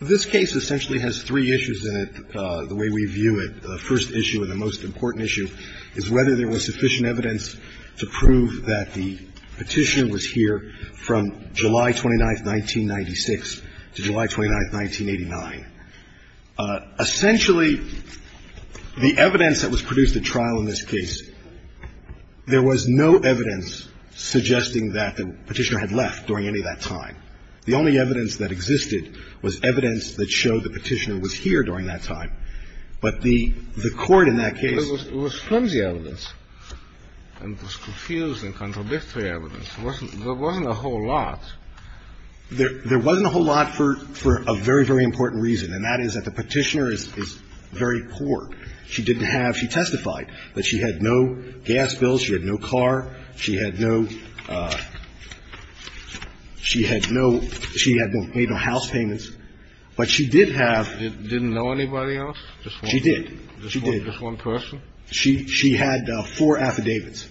This case essentially has three issues in it the way we view it. The first issue and the most important issue is whether there was sufficient evidence to prove that the Petitioner was here from July 29, 1996 to July 29, 1989. Essentially, the evidence that was produced at trial in this case, there was no evidence suggesting that the Petitioner had left during any of that time. The only evidence that existed was evidence that showed the Petitioner was here during that time. But the Court in that case was It was flimsy evidence and it was confusing, contradictory evidence. There wasn't a whole lot. There wasn't a whole lot for a very, very important reason, and that is that the Petitioner is very poor. She didn't have – she testified that she had no gas bills, she had no car, she had no – she had no car. She had no – she had no house payments, but she did have – Didn't know anybody else? She did. Just one person? She had four affidavits,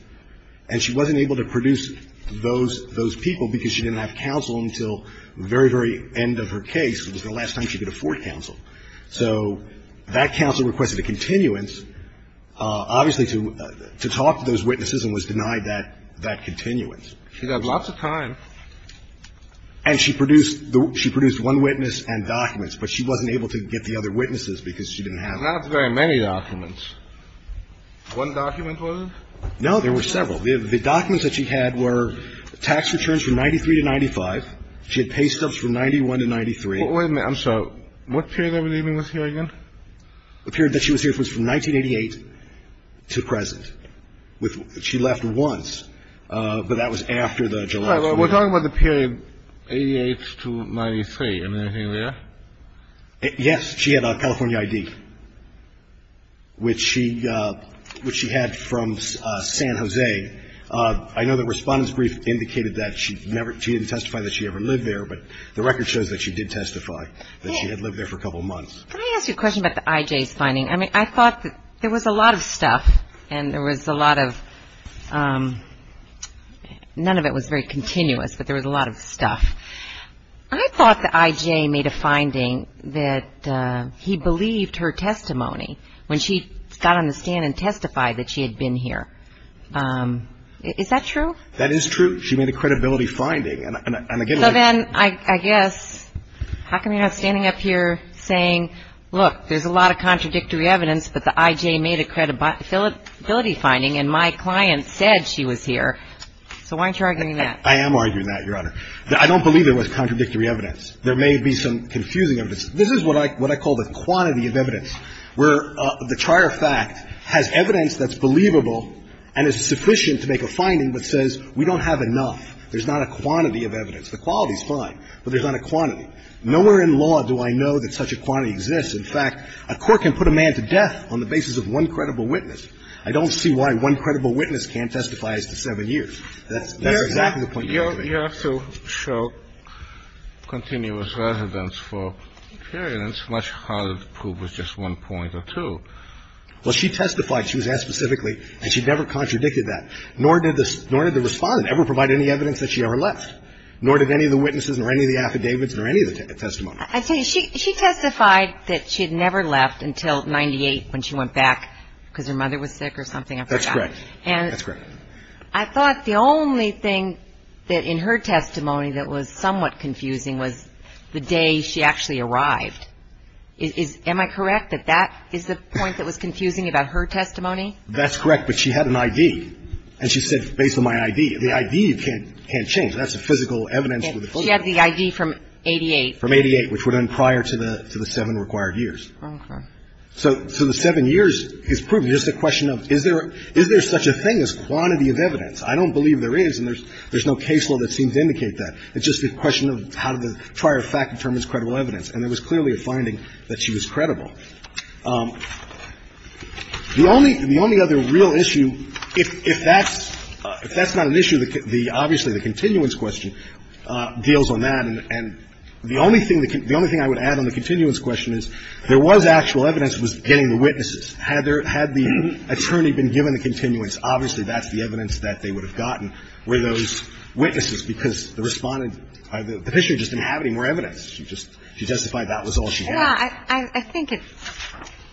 and she wasn't able to produce those people because she didn't have counsel until the very, very end of her case. It was the last time she could afford counsel. So that counsel requested a continuance. Obviously, to talk to those witnesses and was denied that continuance. She had lots of time. And she produced – she produced one witness and documents, but she wasn't able to get the other witnesses because she didn't have them. Not very many documents. One document was? No, there were several. The documents that she had were tax returns from 93 to 95. She had pay stubs from 91 to 93. Wait a minute. I'm sorry. What period are we leaving with here again? The period that she was here was from 1988 to present. She left once, but that was after the July – We're talking about the period 88 to 93. Am I hearing that? Yes. She had a California ID, which she had from San Jose. I know the respondent's brief indicated that she never – she didn't testify that she ever lived there, but the record shows that she did testify that she had lived there for a couple of months. Can I ask you a question about the IJs finding? I mean, I thought that there was a lot of stuff, and there was a lot of – none of it was very continuous, but there was a lot of stuff. I thought the IJ made a finding that he believed her testimony when she got on the stand and testified that she had been here. Is that true? That is true. So then, I guess, how come you're not standing up here saying, look, there's a lot of contradictory evidence, but the IJ made a credibility finding, and my client said she was here? So why aren't you arguing that? I am arguing that, Your Honor. I don't believe it was contradictory evidence. There may be some confusing evidence. This is what I call the quantity of evidence, where the trier fact has evidence that's believable and is sufficient to make a finding, but says we don't have enough. There's not a quantity of evidence. The quality is fine, but there's not a quantity. Nowhere in law do I know that such a quantity exists. In fact, a court can put a man to death on the basis of one credible witness. I don't see why one credible witness can't testify as to seven years. That's exactly the point you're making. You have to show continuous evidence for period, and it's much harder to prove with just one point or two. Well, she testified. She was asked specifically, and she never contradicted that. Nor did the Respondent ever provide any evidence that she ever left. Nor did any of the witnesses or any of the affidavits or any of the testimony. She testified that she had never left until 1998 when she went back because her mother was sick or something. That's correct. And I thought the only thing that in her testimony that was somewhat confusing was the day she actually arrived. Am I correct that that is the point that was confusing about her testimony? That's correct, but she had an I.D. And she said, based on my I.D., the I.D. can't change. That's a physical evidence. Well, you have the I.D. from 88. From 88, which were done prior to the seven required years. Okay. So the seven years is proven. It's just a question of is there such a thing as quantity of evidence. I don't believe there is, and there's no case law that seems to indicate that. It's just a question of how did the prior fact determine credible evidence. And there was clearly a finding that she was credible. The only other real issue, if that's not an issue, obviously the continuance question deals on that. And the only thing I would add on the continuance question is there was actual evidence that was getting the witnesses. Had the attorney been given the continuance, obviously that's the evidence that they would have gotten were those witnesses. Because the Respondent or the Petitioner just didn't have any more evidence. She just testified that was all she had. Yeah. I think it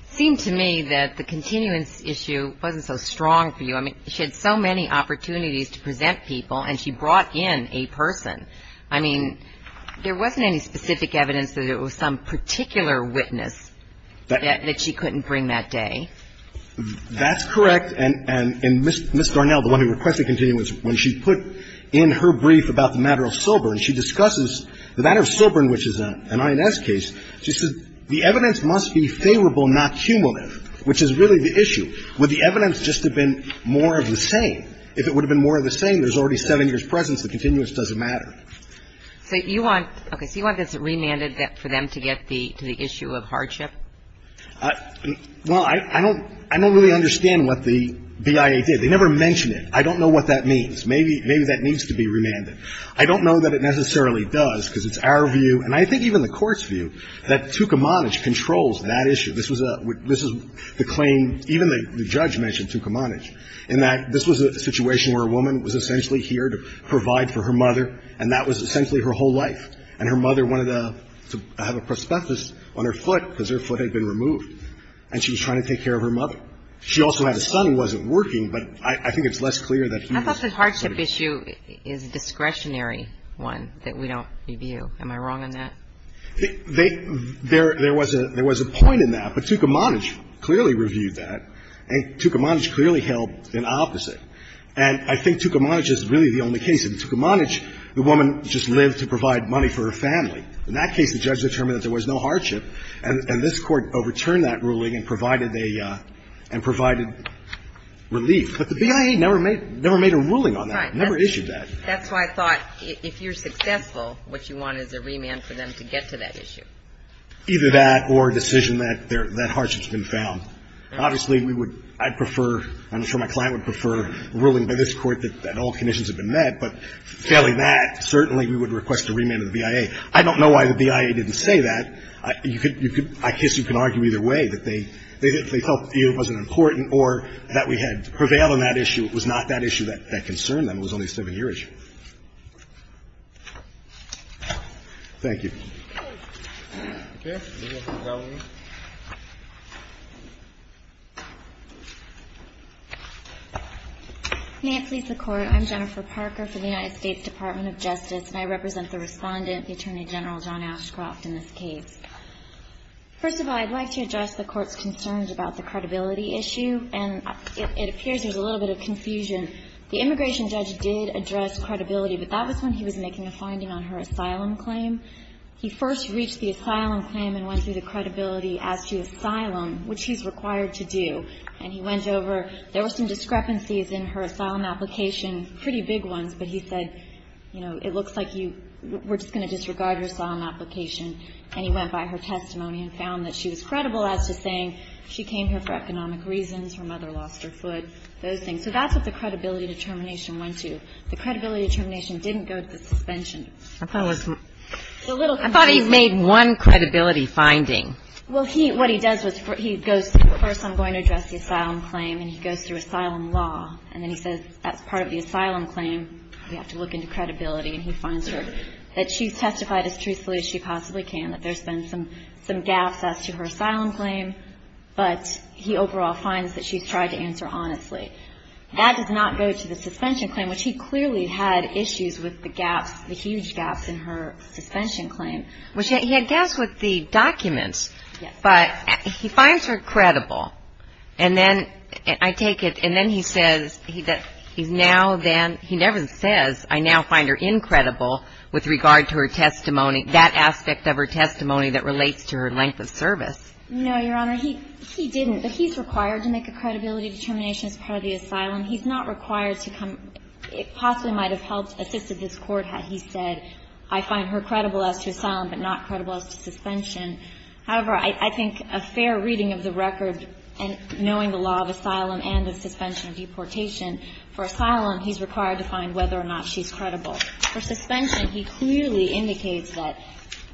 seemed to me that the continuance issue wasn't so strong for you. I mean, she had so many opportunities to present people, and she brought in a person. I mean, there wasn't any specific evidence that it was some particular witness that she couldn't bring that day. That's correct. And Ms. Darnell, the one who requested continuance, when she put in her brief about the matter of Sobern, she discusses the matter of Sobern, which is an INS case. She says the evidence must be favorable, not cumulative, which is really the issue. Would the evidence just have been more of the same? If it would have been more of the same, there's already seven years' presence. The continuance doesn't matter. So you want this remanded for them to get to the issue of hardship? Well, I don't really understand what the BIA did. They never mention it. I don't know what that means. Maybe that needs to be remanded. I don't know that it necessarily does, because it's our view, and I think even the Court's view, that Tukamanich controls that issue. This was a – this is the claim – even the judge mentioned Tukamanich, in that this was a situation where a woman was essentially here to provide for her mother, and that was essentially her whole life. And her mother wanted to have a prosthesis on her foot, because her foot had been removed. And she was trying to take care of her mother. She also had a son who wasn't working, but I think it's less clear that he was. I thought the hardship issue is a discretionary one that we don't review. Am I wrong on that? There was a point in that, but Tukamanich clearly reviewed that, and Tukamanich clearly held an opposite. And I think Tukamanich is really the only case. In Tukamanich, the woman just lived to provide money for her family. In that case, the judge determined that there was no hardship, and this Court overturned that ruling and provided a – and provided relief. But the BIA never made a ruling on that, never issued that. That's why I thought if you're successful, what you want is a remand for them to get to that issue. Either that or a decision that hardship's been found. Obviously, we would – I'd prefer – I'm sure my client would prefer a ruling by this Court that all conditions have been met, but failing that, certainly we would request a remand of the BIA. I don't know why the BIA didn't say that. I guess you can argue either way, that they felt it wasn't important or that we had prevailed on that issue. It was not that issue that concerned them. It was only a 7-year issue. Thank you. Okay. Ms. McAuley. May it please the Court, I'm Jennifer Parker for the United States Department of Justice, and I represent the Respondent, the Attorney General, John Ashcroft, in this case. First of all, I'd like to address the Court's concerns about the credibility issue, and it appears there's a little bit of confusion. The immigration judge did address credibility, but that was when he was making a finding on her asylum claim. He first reached the asylum claim and went through the credibility as to asylum, which he's required to do. And he went over – there were some discrepancies in her asylum application, pretty big ones. But he said, you know, it looks like you – we're just going to disregard your asylum application. And he went by her testimony and found that she was credible as to saying she came here for economic reasons, her mother lost her foot, those things. So that's what the credibility determination went to. The credibility determination didn't go to the suspension. I thought it was – I thought he made one credibility finding. Well, he – what he does was he goes, first I'm going to address the asylum claim, and he goes through asylum law. And then he says that's part of the asylum claim, we have to look into credibility. And he finds her – that she's testified as truthfully as she possibly can, that there's been some gaps as to her asylum claim. But he overall finds that she's tried to answer honestly. That does not go to the suspension claim, which he clearly had issues with the gaps, the huge gaps in her suspension claim. Well, he had gaps with the documents. Yes. But he finds her credible. And then I take it – and then he says that he's now then – he never says, I now find her incredible with regard to her testimony, that aspect of her testimony that relates to her length of service. No, Your Honor. He didn't. But he's required to make a credibility determination as part of the asylum. He's not required to come – it possibly might have helped assisted this court had he said, I find her credible as to asylum but not credible as to suspension. However, I think a fair reading of the record and knowing the law of asylum and of suspension and deportation, for asylum he's required to find whether or not she's credible. For suspension, he clearly indicates that,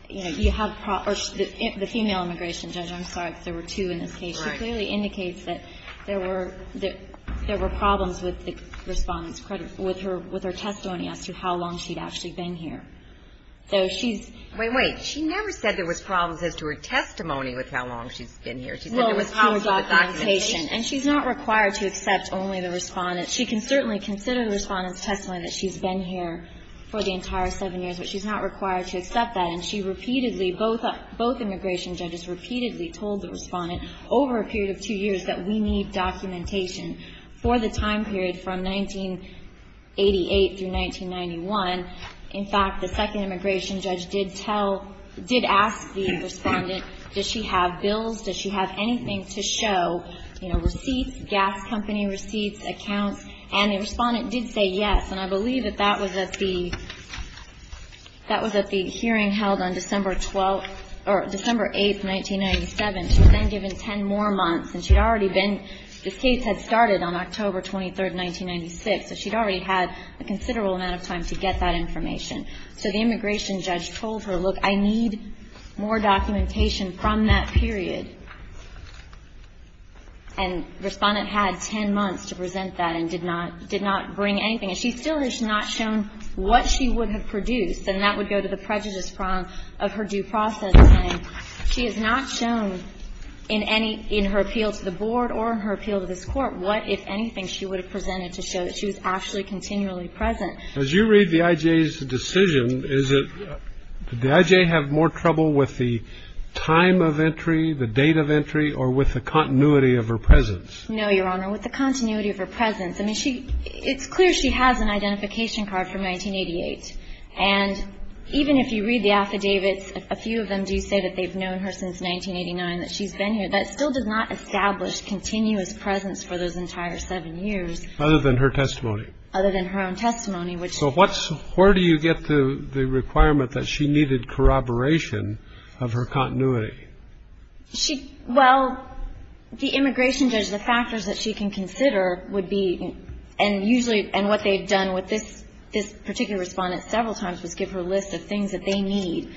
you know, you have – or the female immigration judge. I'm sorry if there were two in this case. Right. She clearly indicates that there were – that there were problems with the Respondent's credit – with her – with her testimony as to how long she'd actually been here. So she's – Wait, wait. She never said there was problems as to her testimony with how long she's been here. She said there was problems with the documentation. And she's not required to accept only the Respondent. She can certainly consider the Respondent's testimony that she's been here for the entire seven years, but she's not required to accept that. And she repeatedly – both immigration judges repeatedly told the Respondent over a period of two years that we need documentation for the time period from 1988 through 1991. In fact, the second immigration judge did tell – did ask the Respondent, does she have bills, does she have anything to show, you know, receipts, gas company receipts, accounts, and the Respondent did say yes. And I believe that that was at the – that was at the hearing held on December 12th – or December 8th, 1997. She was then given 10 more months. And she'd already been – this case had started on October 23rd, 1996, so she'd already had a considerable amount of time to get that information. So the immigration judge told her, look, I need more documentation from that period. And Respondent had 10 months to present that and did not – did not bring anything. And she still has not shown what she would have produced. And that would go to the prejudice problem of her due process. And she has not shown in any – in her appeal to the Board or her appeal to this Court what, if anything, she would have presented to show that she was actually continually present. As you read the I.J.'s decision, is it – did the I.J. have more trouble with the time of entry, the date of entry, or with the continuity of her presence? No, Your Honor, with the continuity of her presence. I mean, she – it's clear she has an identification card from 1988. And even if you read the affidavits, a few of them do say that they've known her since 1989, that she's been here. That still does not establish continuous presence for those entire seven years. Other than her testimony? Other than her own testimony, which – So what's – where do you get the requirement that she needed corroboration of her continuity? She – well, the immigration judge, the factors that she can consider would be – and usually – and what they've done with this particular Respondent several times was give her a list of things that they need,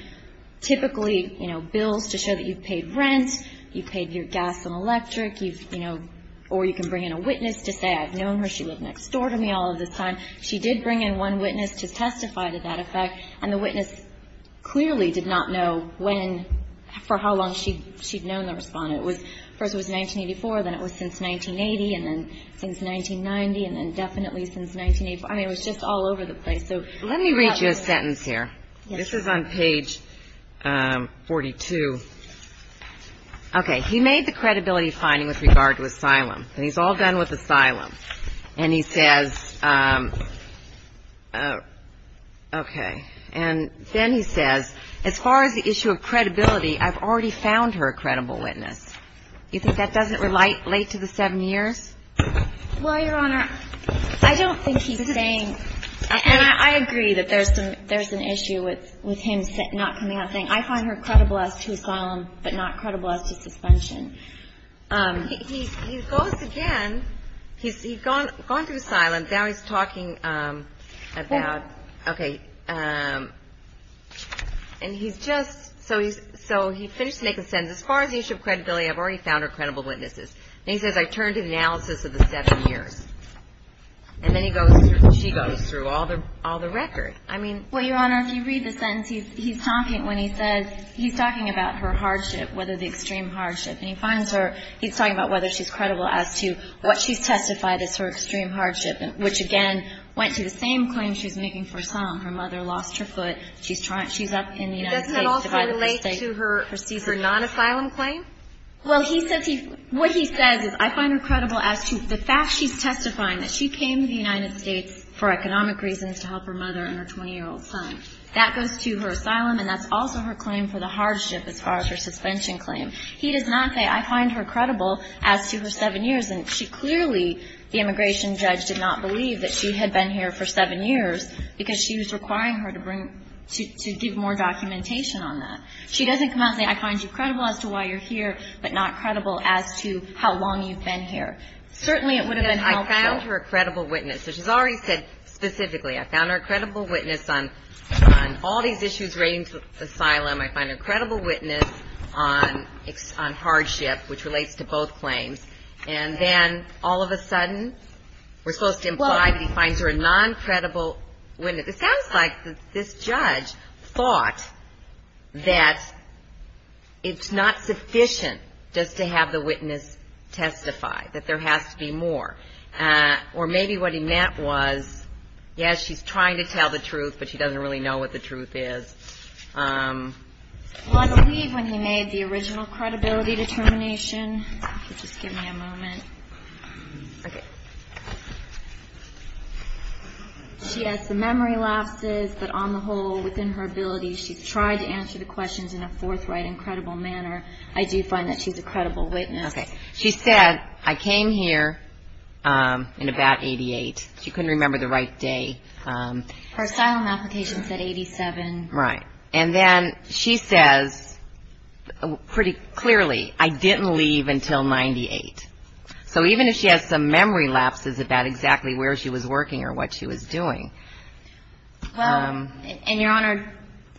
typically, you know, bills to show that you've paid rent, you've paid your gas and electric, you've, you know – or you can bring in a witness to say, I've known her, she lived next door to me all of this time. She did bring in one witness to testify to that effect, and the witness clearly did not know when – for how long she'd known the Respondent. It was – first it was 1984, then it was since 1980, and then since 1990, and then definitely since 1984. I mean, it was just all over the place. So – Let me read you a sentence here. Yes. This is on page 42. Okay. He made the credibility finding with regard to asylum. And he's all done with asylum. And he says – okay. And then he says, as far as the issue of credibility, I've already found her a credible witness. You think that doesn't relate late to the seven years? Well, Your Honor, I don't think he's saying – and I agree that there's an issue with him not coming out and saying, I find her credible as to asylum, but not credible as to suspension. He goes again – he's gone through asylum. Now he's talking about – okay. And he's just – so he finishes making a sentence, as far as the issue of credibility, I've already found her credible witnesses. And he says, I turn to the analysis of the seven years. And then he goes through – she goes through all the record. I mean – Well, Your Honor, if you read the sentence, he's talking when he says – he's talking about her hardship, whether the extreme hardship. And he finds her – he's talking about whether she's credible as to what she's testified as her extreme hardship, which, again, went to the same claim she's making for asylum. Her mother lost her foot. She's trying – she's up in the United States. It doesn't also relate to her non-asylum claim? Well, he says he – what he says is, I find her credible as to the fact she's testifying that she came to the United States for economic reasons to help her mother and her 20-year-old son. That goes to her asylum, and that's also her claim for the hardship as far as her suspension claim. He does not say, I find her credible as to her seven years. And she clearly – the immigration judge did not believe that she had been here for seven years because she was requiring her to bring – to give more documentation on that. She doesn't come out and say, I find you credible as to why you're here, but not credible as to how long you've been here. Certainly, it would have been helpful. Yes, I found her a credible witness. So she's already said specifically, I found her a credible witness on all these issues relating to asylum. I find her a credible witness on hardship, which relates to both claims. And then all of a sudden, we're supposed to imply that he finds her a non-credible witness. It sounds like this judge thought that it's not sufficient just to have the witness testify, that there has to be more. Or maybe what he meant was, yes, she's trying to tell the truth, but she doesn't really know what the truth is. Well, I believe when he made the original credibility determination – just give me a moment. Okay. She has some memory losses, but on the whole, within her ability, she's tried to answer the questions in a forthright and credible manner. I do find that she's a credible witness. She said, I came here in about 88. She couldn't remember the right day. Her asylum application said 87. Right. And then she says pretty clearly, I didn't leave until 98. So even if she has some memory lapses about exactly where she was working or what she was doing. Well, and Your Honor,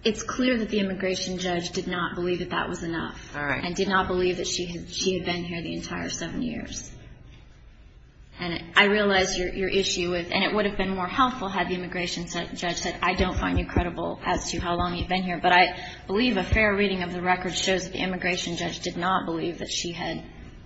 it's clear that the immigration judge did not believe that that was enough. All right. And did not believe that she had been here the entire seven years. And I realize your issue with – and it would have been more helpful had the immigration judge said, I don't find you credible as to how long you've been here. But I believe a fair reading of the record shows that the immigration judge did not believe that she had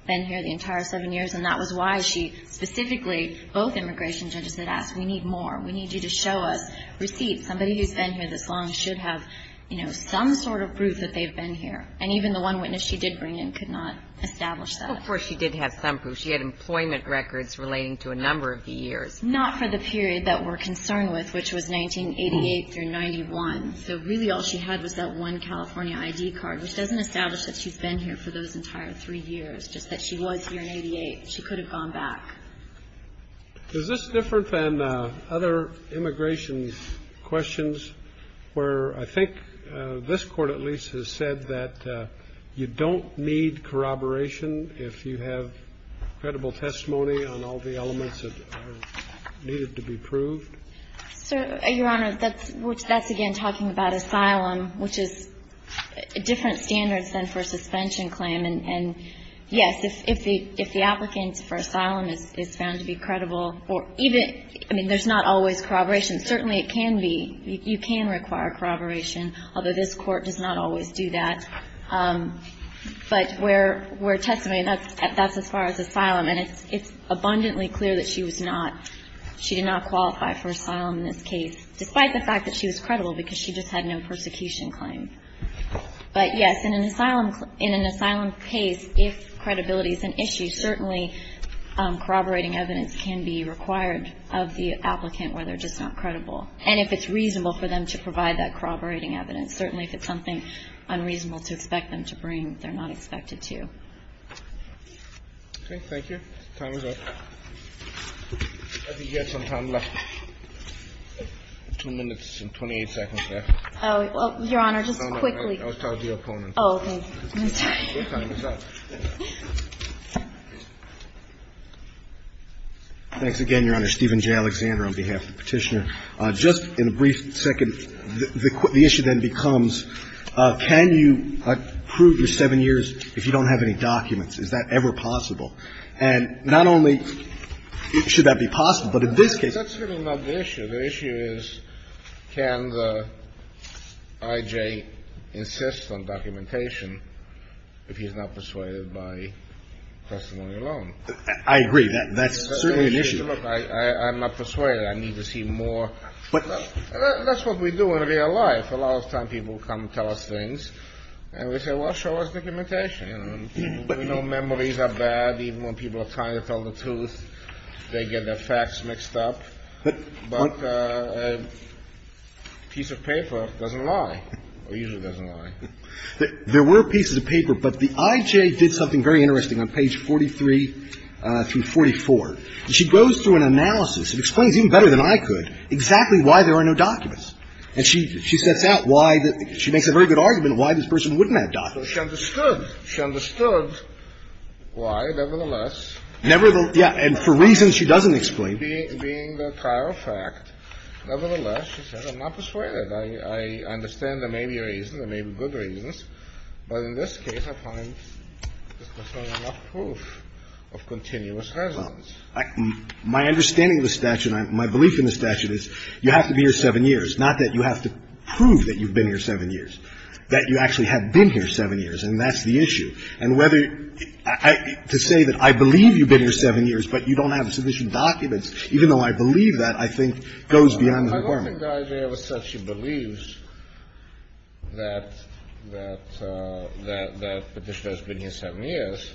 been here the entire seven years. And that was why she specifically – both immigration judges had asked, we need more. We need you to show us receipts. Somebody who's been here this long should have, you know, some sort of proof that they've been here. And even the one witness she did bring in could not establish that. Of course she did have some proof. She had employment records relating to a number of the years. Not for the period that we're concerned with, which was 1988 through 91. So really all she had was that one California ID card, which doesn't establish that she's been here for those entire three years, just that she was here in 88. She could have gone back. Is this different than other immigration questions, where I think this Court at least has said that you don't need corroboration if you have credible testimony on all the elements that are needed to be proved? Your Honor, that's again talking about asylum, which is different standards than for a suspension claim. And yes, if the applicant for asylum is found to be credible, or even, I mean, there's not always corroboration. Certainly it can be. You can require corroboration, although this Court does not always do that. But where testimony, that's as far as asylum. And it's abundantly clear that she was not, she did not qualify for asylum in this case, despite the fact that she was credible because she just had no persecution claim. But yes, in an asylum case, if credibility is an issue, certainly corroborating evidence can be required of the applicant where they're just not credible. And if it's reasonable for them to provide that corroborating evidence. Certainly if it's something unreasonable to expect them to bring, they're not expected to. Okay, thank you. Time is up. I think you had some time left. Two minutes and 28 seconds left. Your Honor, just quickly. I was talking to your opponent. Oh, okay. I'm sorry. Your time is up. Thanks again, Your Honor. Steven J. Alexander on behalf of the Petitioner. Just in a brief second, the issue then becomes, can you prove your seven years if you don't have any documents? Is that ever possible? And not only should that be possible, but in this case. That's certainly not the issue. The issue is, can the I.J. insist on documentation if he's not persuaded by testimony alone? I agree. That's certainly an issue. Look, I'm not persuaded. I need to see more. That's what we do in real life. A lot of times people come and tell us things, and we say, well, show us documentation. You know, memories are bad. Even when people are trying to tell the truth, they get their facts mixed up. But a piece of paper doesn't lie, or usually doesn't lie. There were pieces of paper, but the I.J. did something very interesting on page 43 through 44. She goes through an analysis and explains even better than I could exactly why there are no documents. And she sets out why the – she makes a very good argument of why this person wouldn't have documents. So she understood. She understood why, nevertheless. Yeah, and for reasons she doesn't explain. Being a prior fact, nevertheless, she says, I'm not persuaded. I understand there may be reasons. There may be good reasons. But in this case, I find this person enough proof of continuous residence. My understanding of the statute, my belief in the statute is you have to be here seven years, not that you have to prove that you've been here seven years, that you actually have been here seven years, and that's the issue. And whether – to say that I believe you've been here seven years, but you don't have sufficient documents, even though I believe that, I think goes beyond the requirement. I don't think the I.J. ever said she believes that Patricia has been here seven years.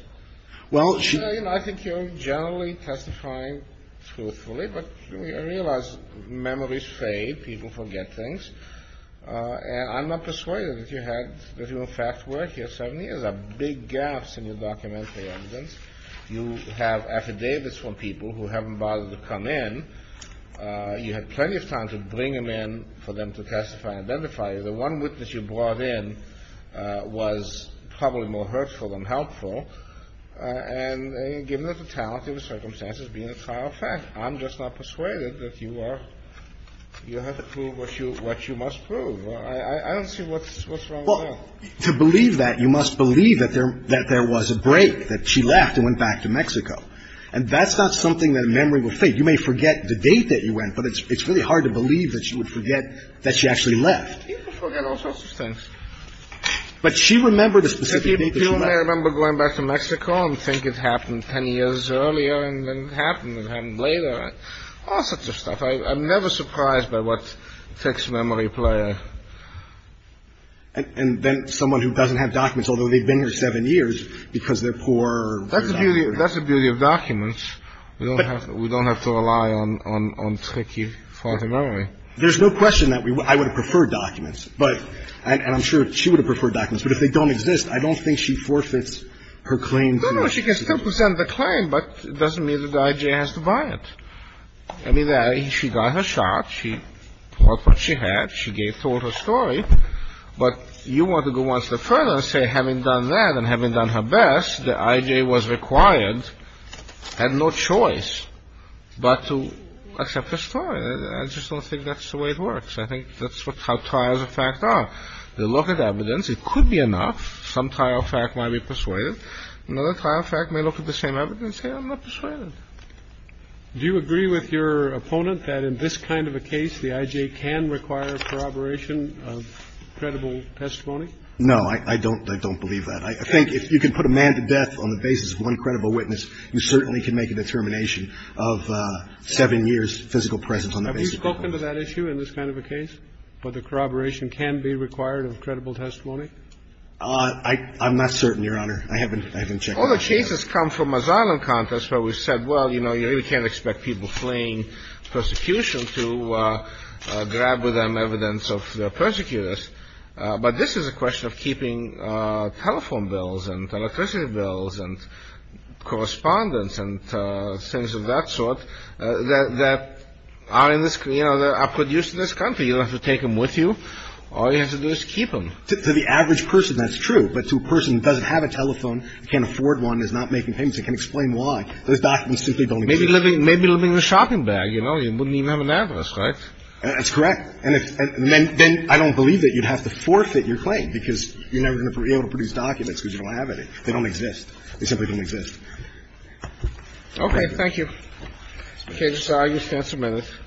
Well, she – You know, I think you're generally testifying truthfully, but I realize memories fade. People forget things. And I'm not persuaded that you had – that you in fact were here seven years. There are big gaps in your documentary evidence. You have affidavits from people who haven't bothered to come in. You had plenty of time to bring them in for them to testify and identify you. The one witness you brought in was probably more hurtful than helpful. And given the totality of the circumstances, being a trial fact, I'm just not persuaded that you are – you have to prove what you must prove. I don't see what's wrong with that. Well, to believe that, you must believe that there was a break, that she left and went back to Mexico. And that's not something that a memory will fade. You may forget the date that you went, but it's really hard to believe that you would forget that she actually left. People forget all sorts of things. But she remembered a specific date that she left. People may remember going back to Mexico and think it happened 10 years earlier and then it happened, it happened later, all sorts of stuff. I'm never surprised by what takes memory player. And then someone who doesn't have documents, although they've been here seven years because they're poor. That's the beauty of documents. We don't have to rely on tricky, faulty memory. There's no question that I would have preferred documents. And I'm sure she would have preferred documents. But if they don't exist, I don't think she forfeits her claim to the institution. No, no, she can still present the claim, but it doesn't mean that the IJ has to buy it. I mean, she got her shot. She brought what she had. She told her story. But you want to go one step further and say, having done that and having done her best, the IJ was required, had no choice but to accept her story. I just don't think that's the way it works. I think that's how trials of fact are. They look at evidence. It could be enough. Some trial of fact might be persuaded. Another trial of fact may look at the same evidence and say, I'm not persuaded. Do you agree with your opponent that in this kind of a case, the IJ can require corroboration of credible testimony? No, I don't believe that. I think if you can put a man to death on the basis of one credible witness, you certainly can make a determination of seven years' physical presence on the basis of that. Have you spoken to that issue in this kind of a case, where the corroboration can be required of credible testimony? I'm not certain, Your Honor. I haven't checked. All the cases come from asylum contests where we've said, well, you know, you really can't expect people fleeing persecution to grab with them evidence of their persecutors. But this is a question of keeping telephone bills and electricity bills and correspondence and things of that sort that are produced in this country. You don't have to take them with you. All you have to do is keep them. To the average person, that's true. But to a person who doesn't have a telephone who can't afford one and is not making payments and can't explain why, those documents simply don't exist. Maybe living in a shopping bag, you know. You wouldn't even have an address, right? That's correct. And then I don't believe that you'd have to forfeit your claim because you're never going to be able to produce documents because you don't have any. They don't exist. They simply don't exist. Okay. Thank you. Okay. Just allow yourself a minute.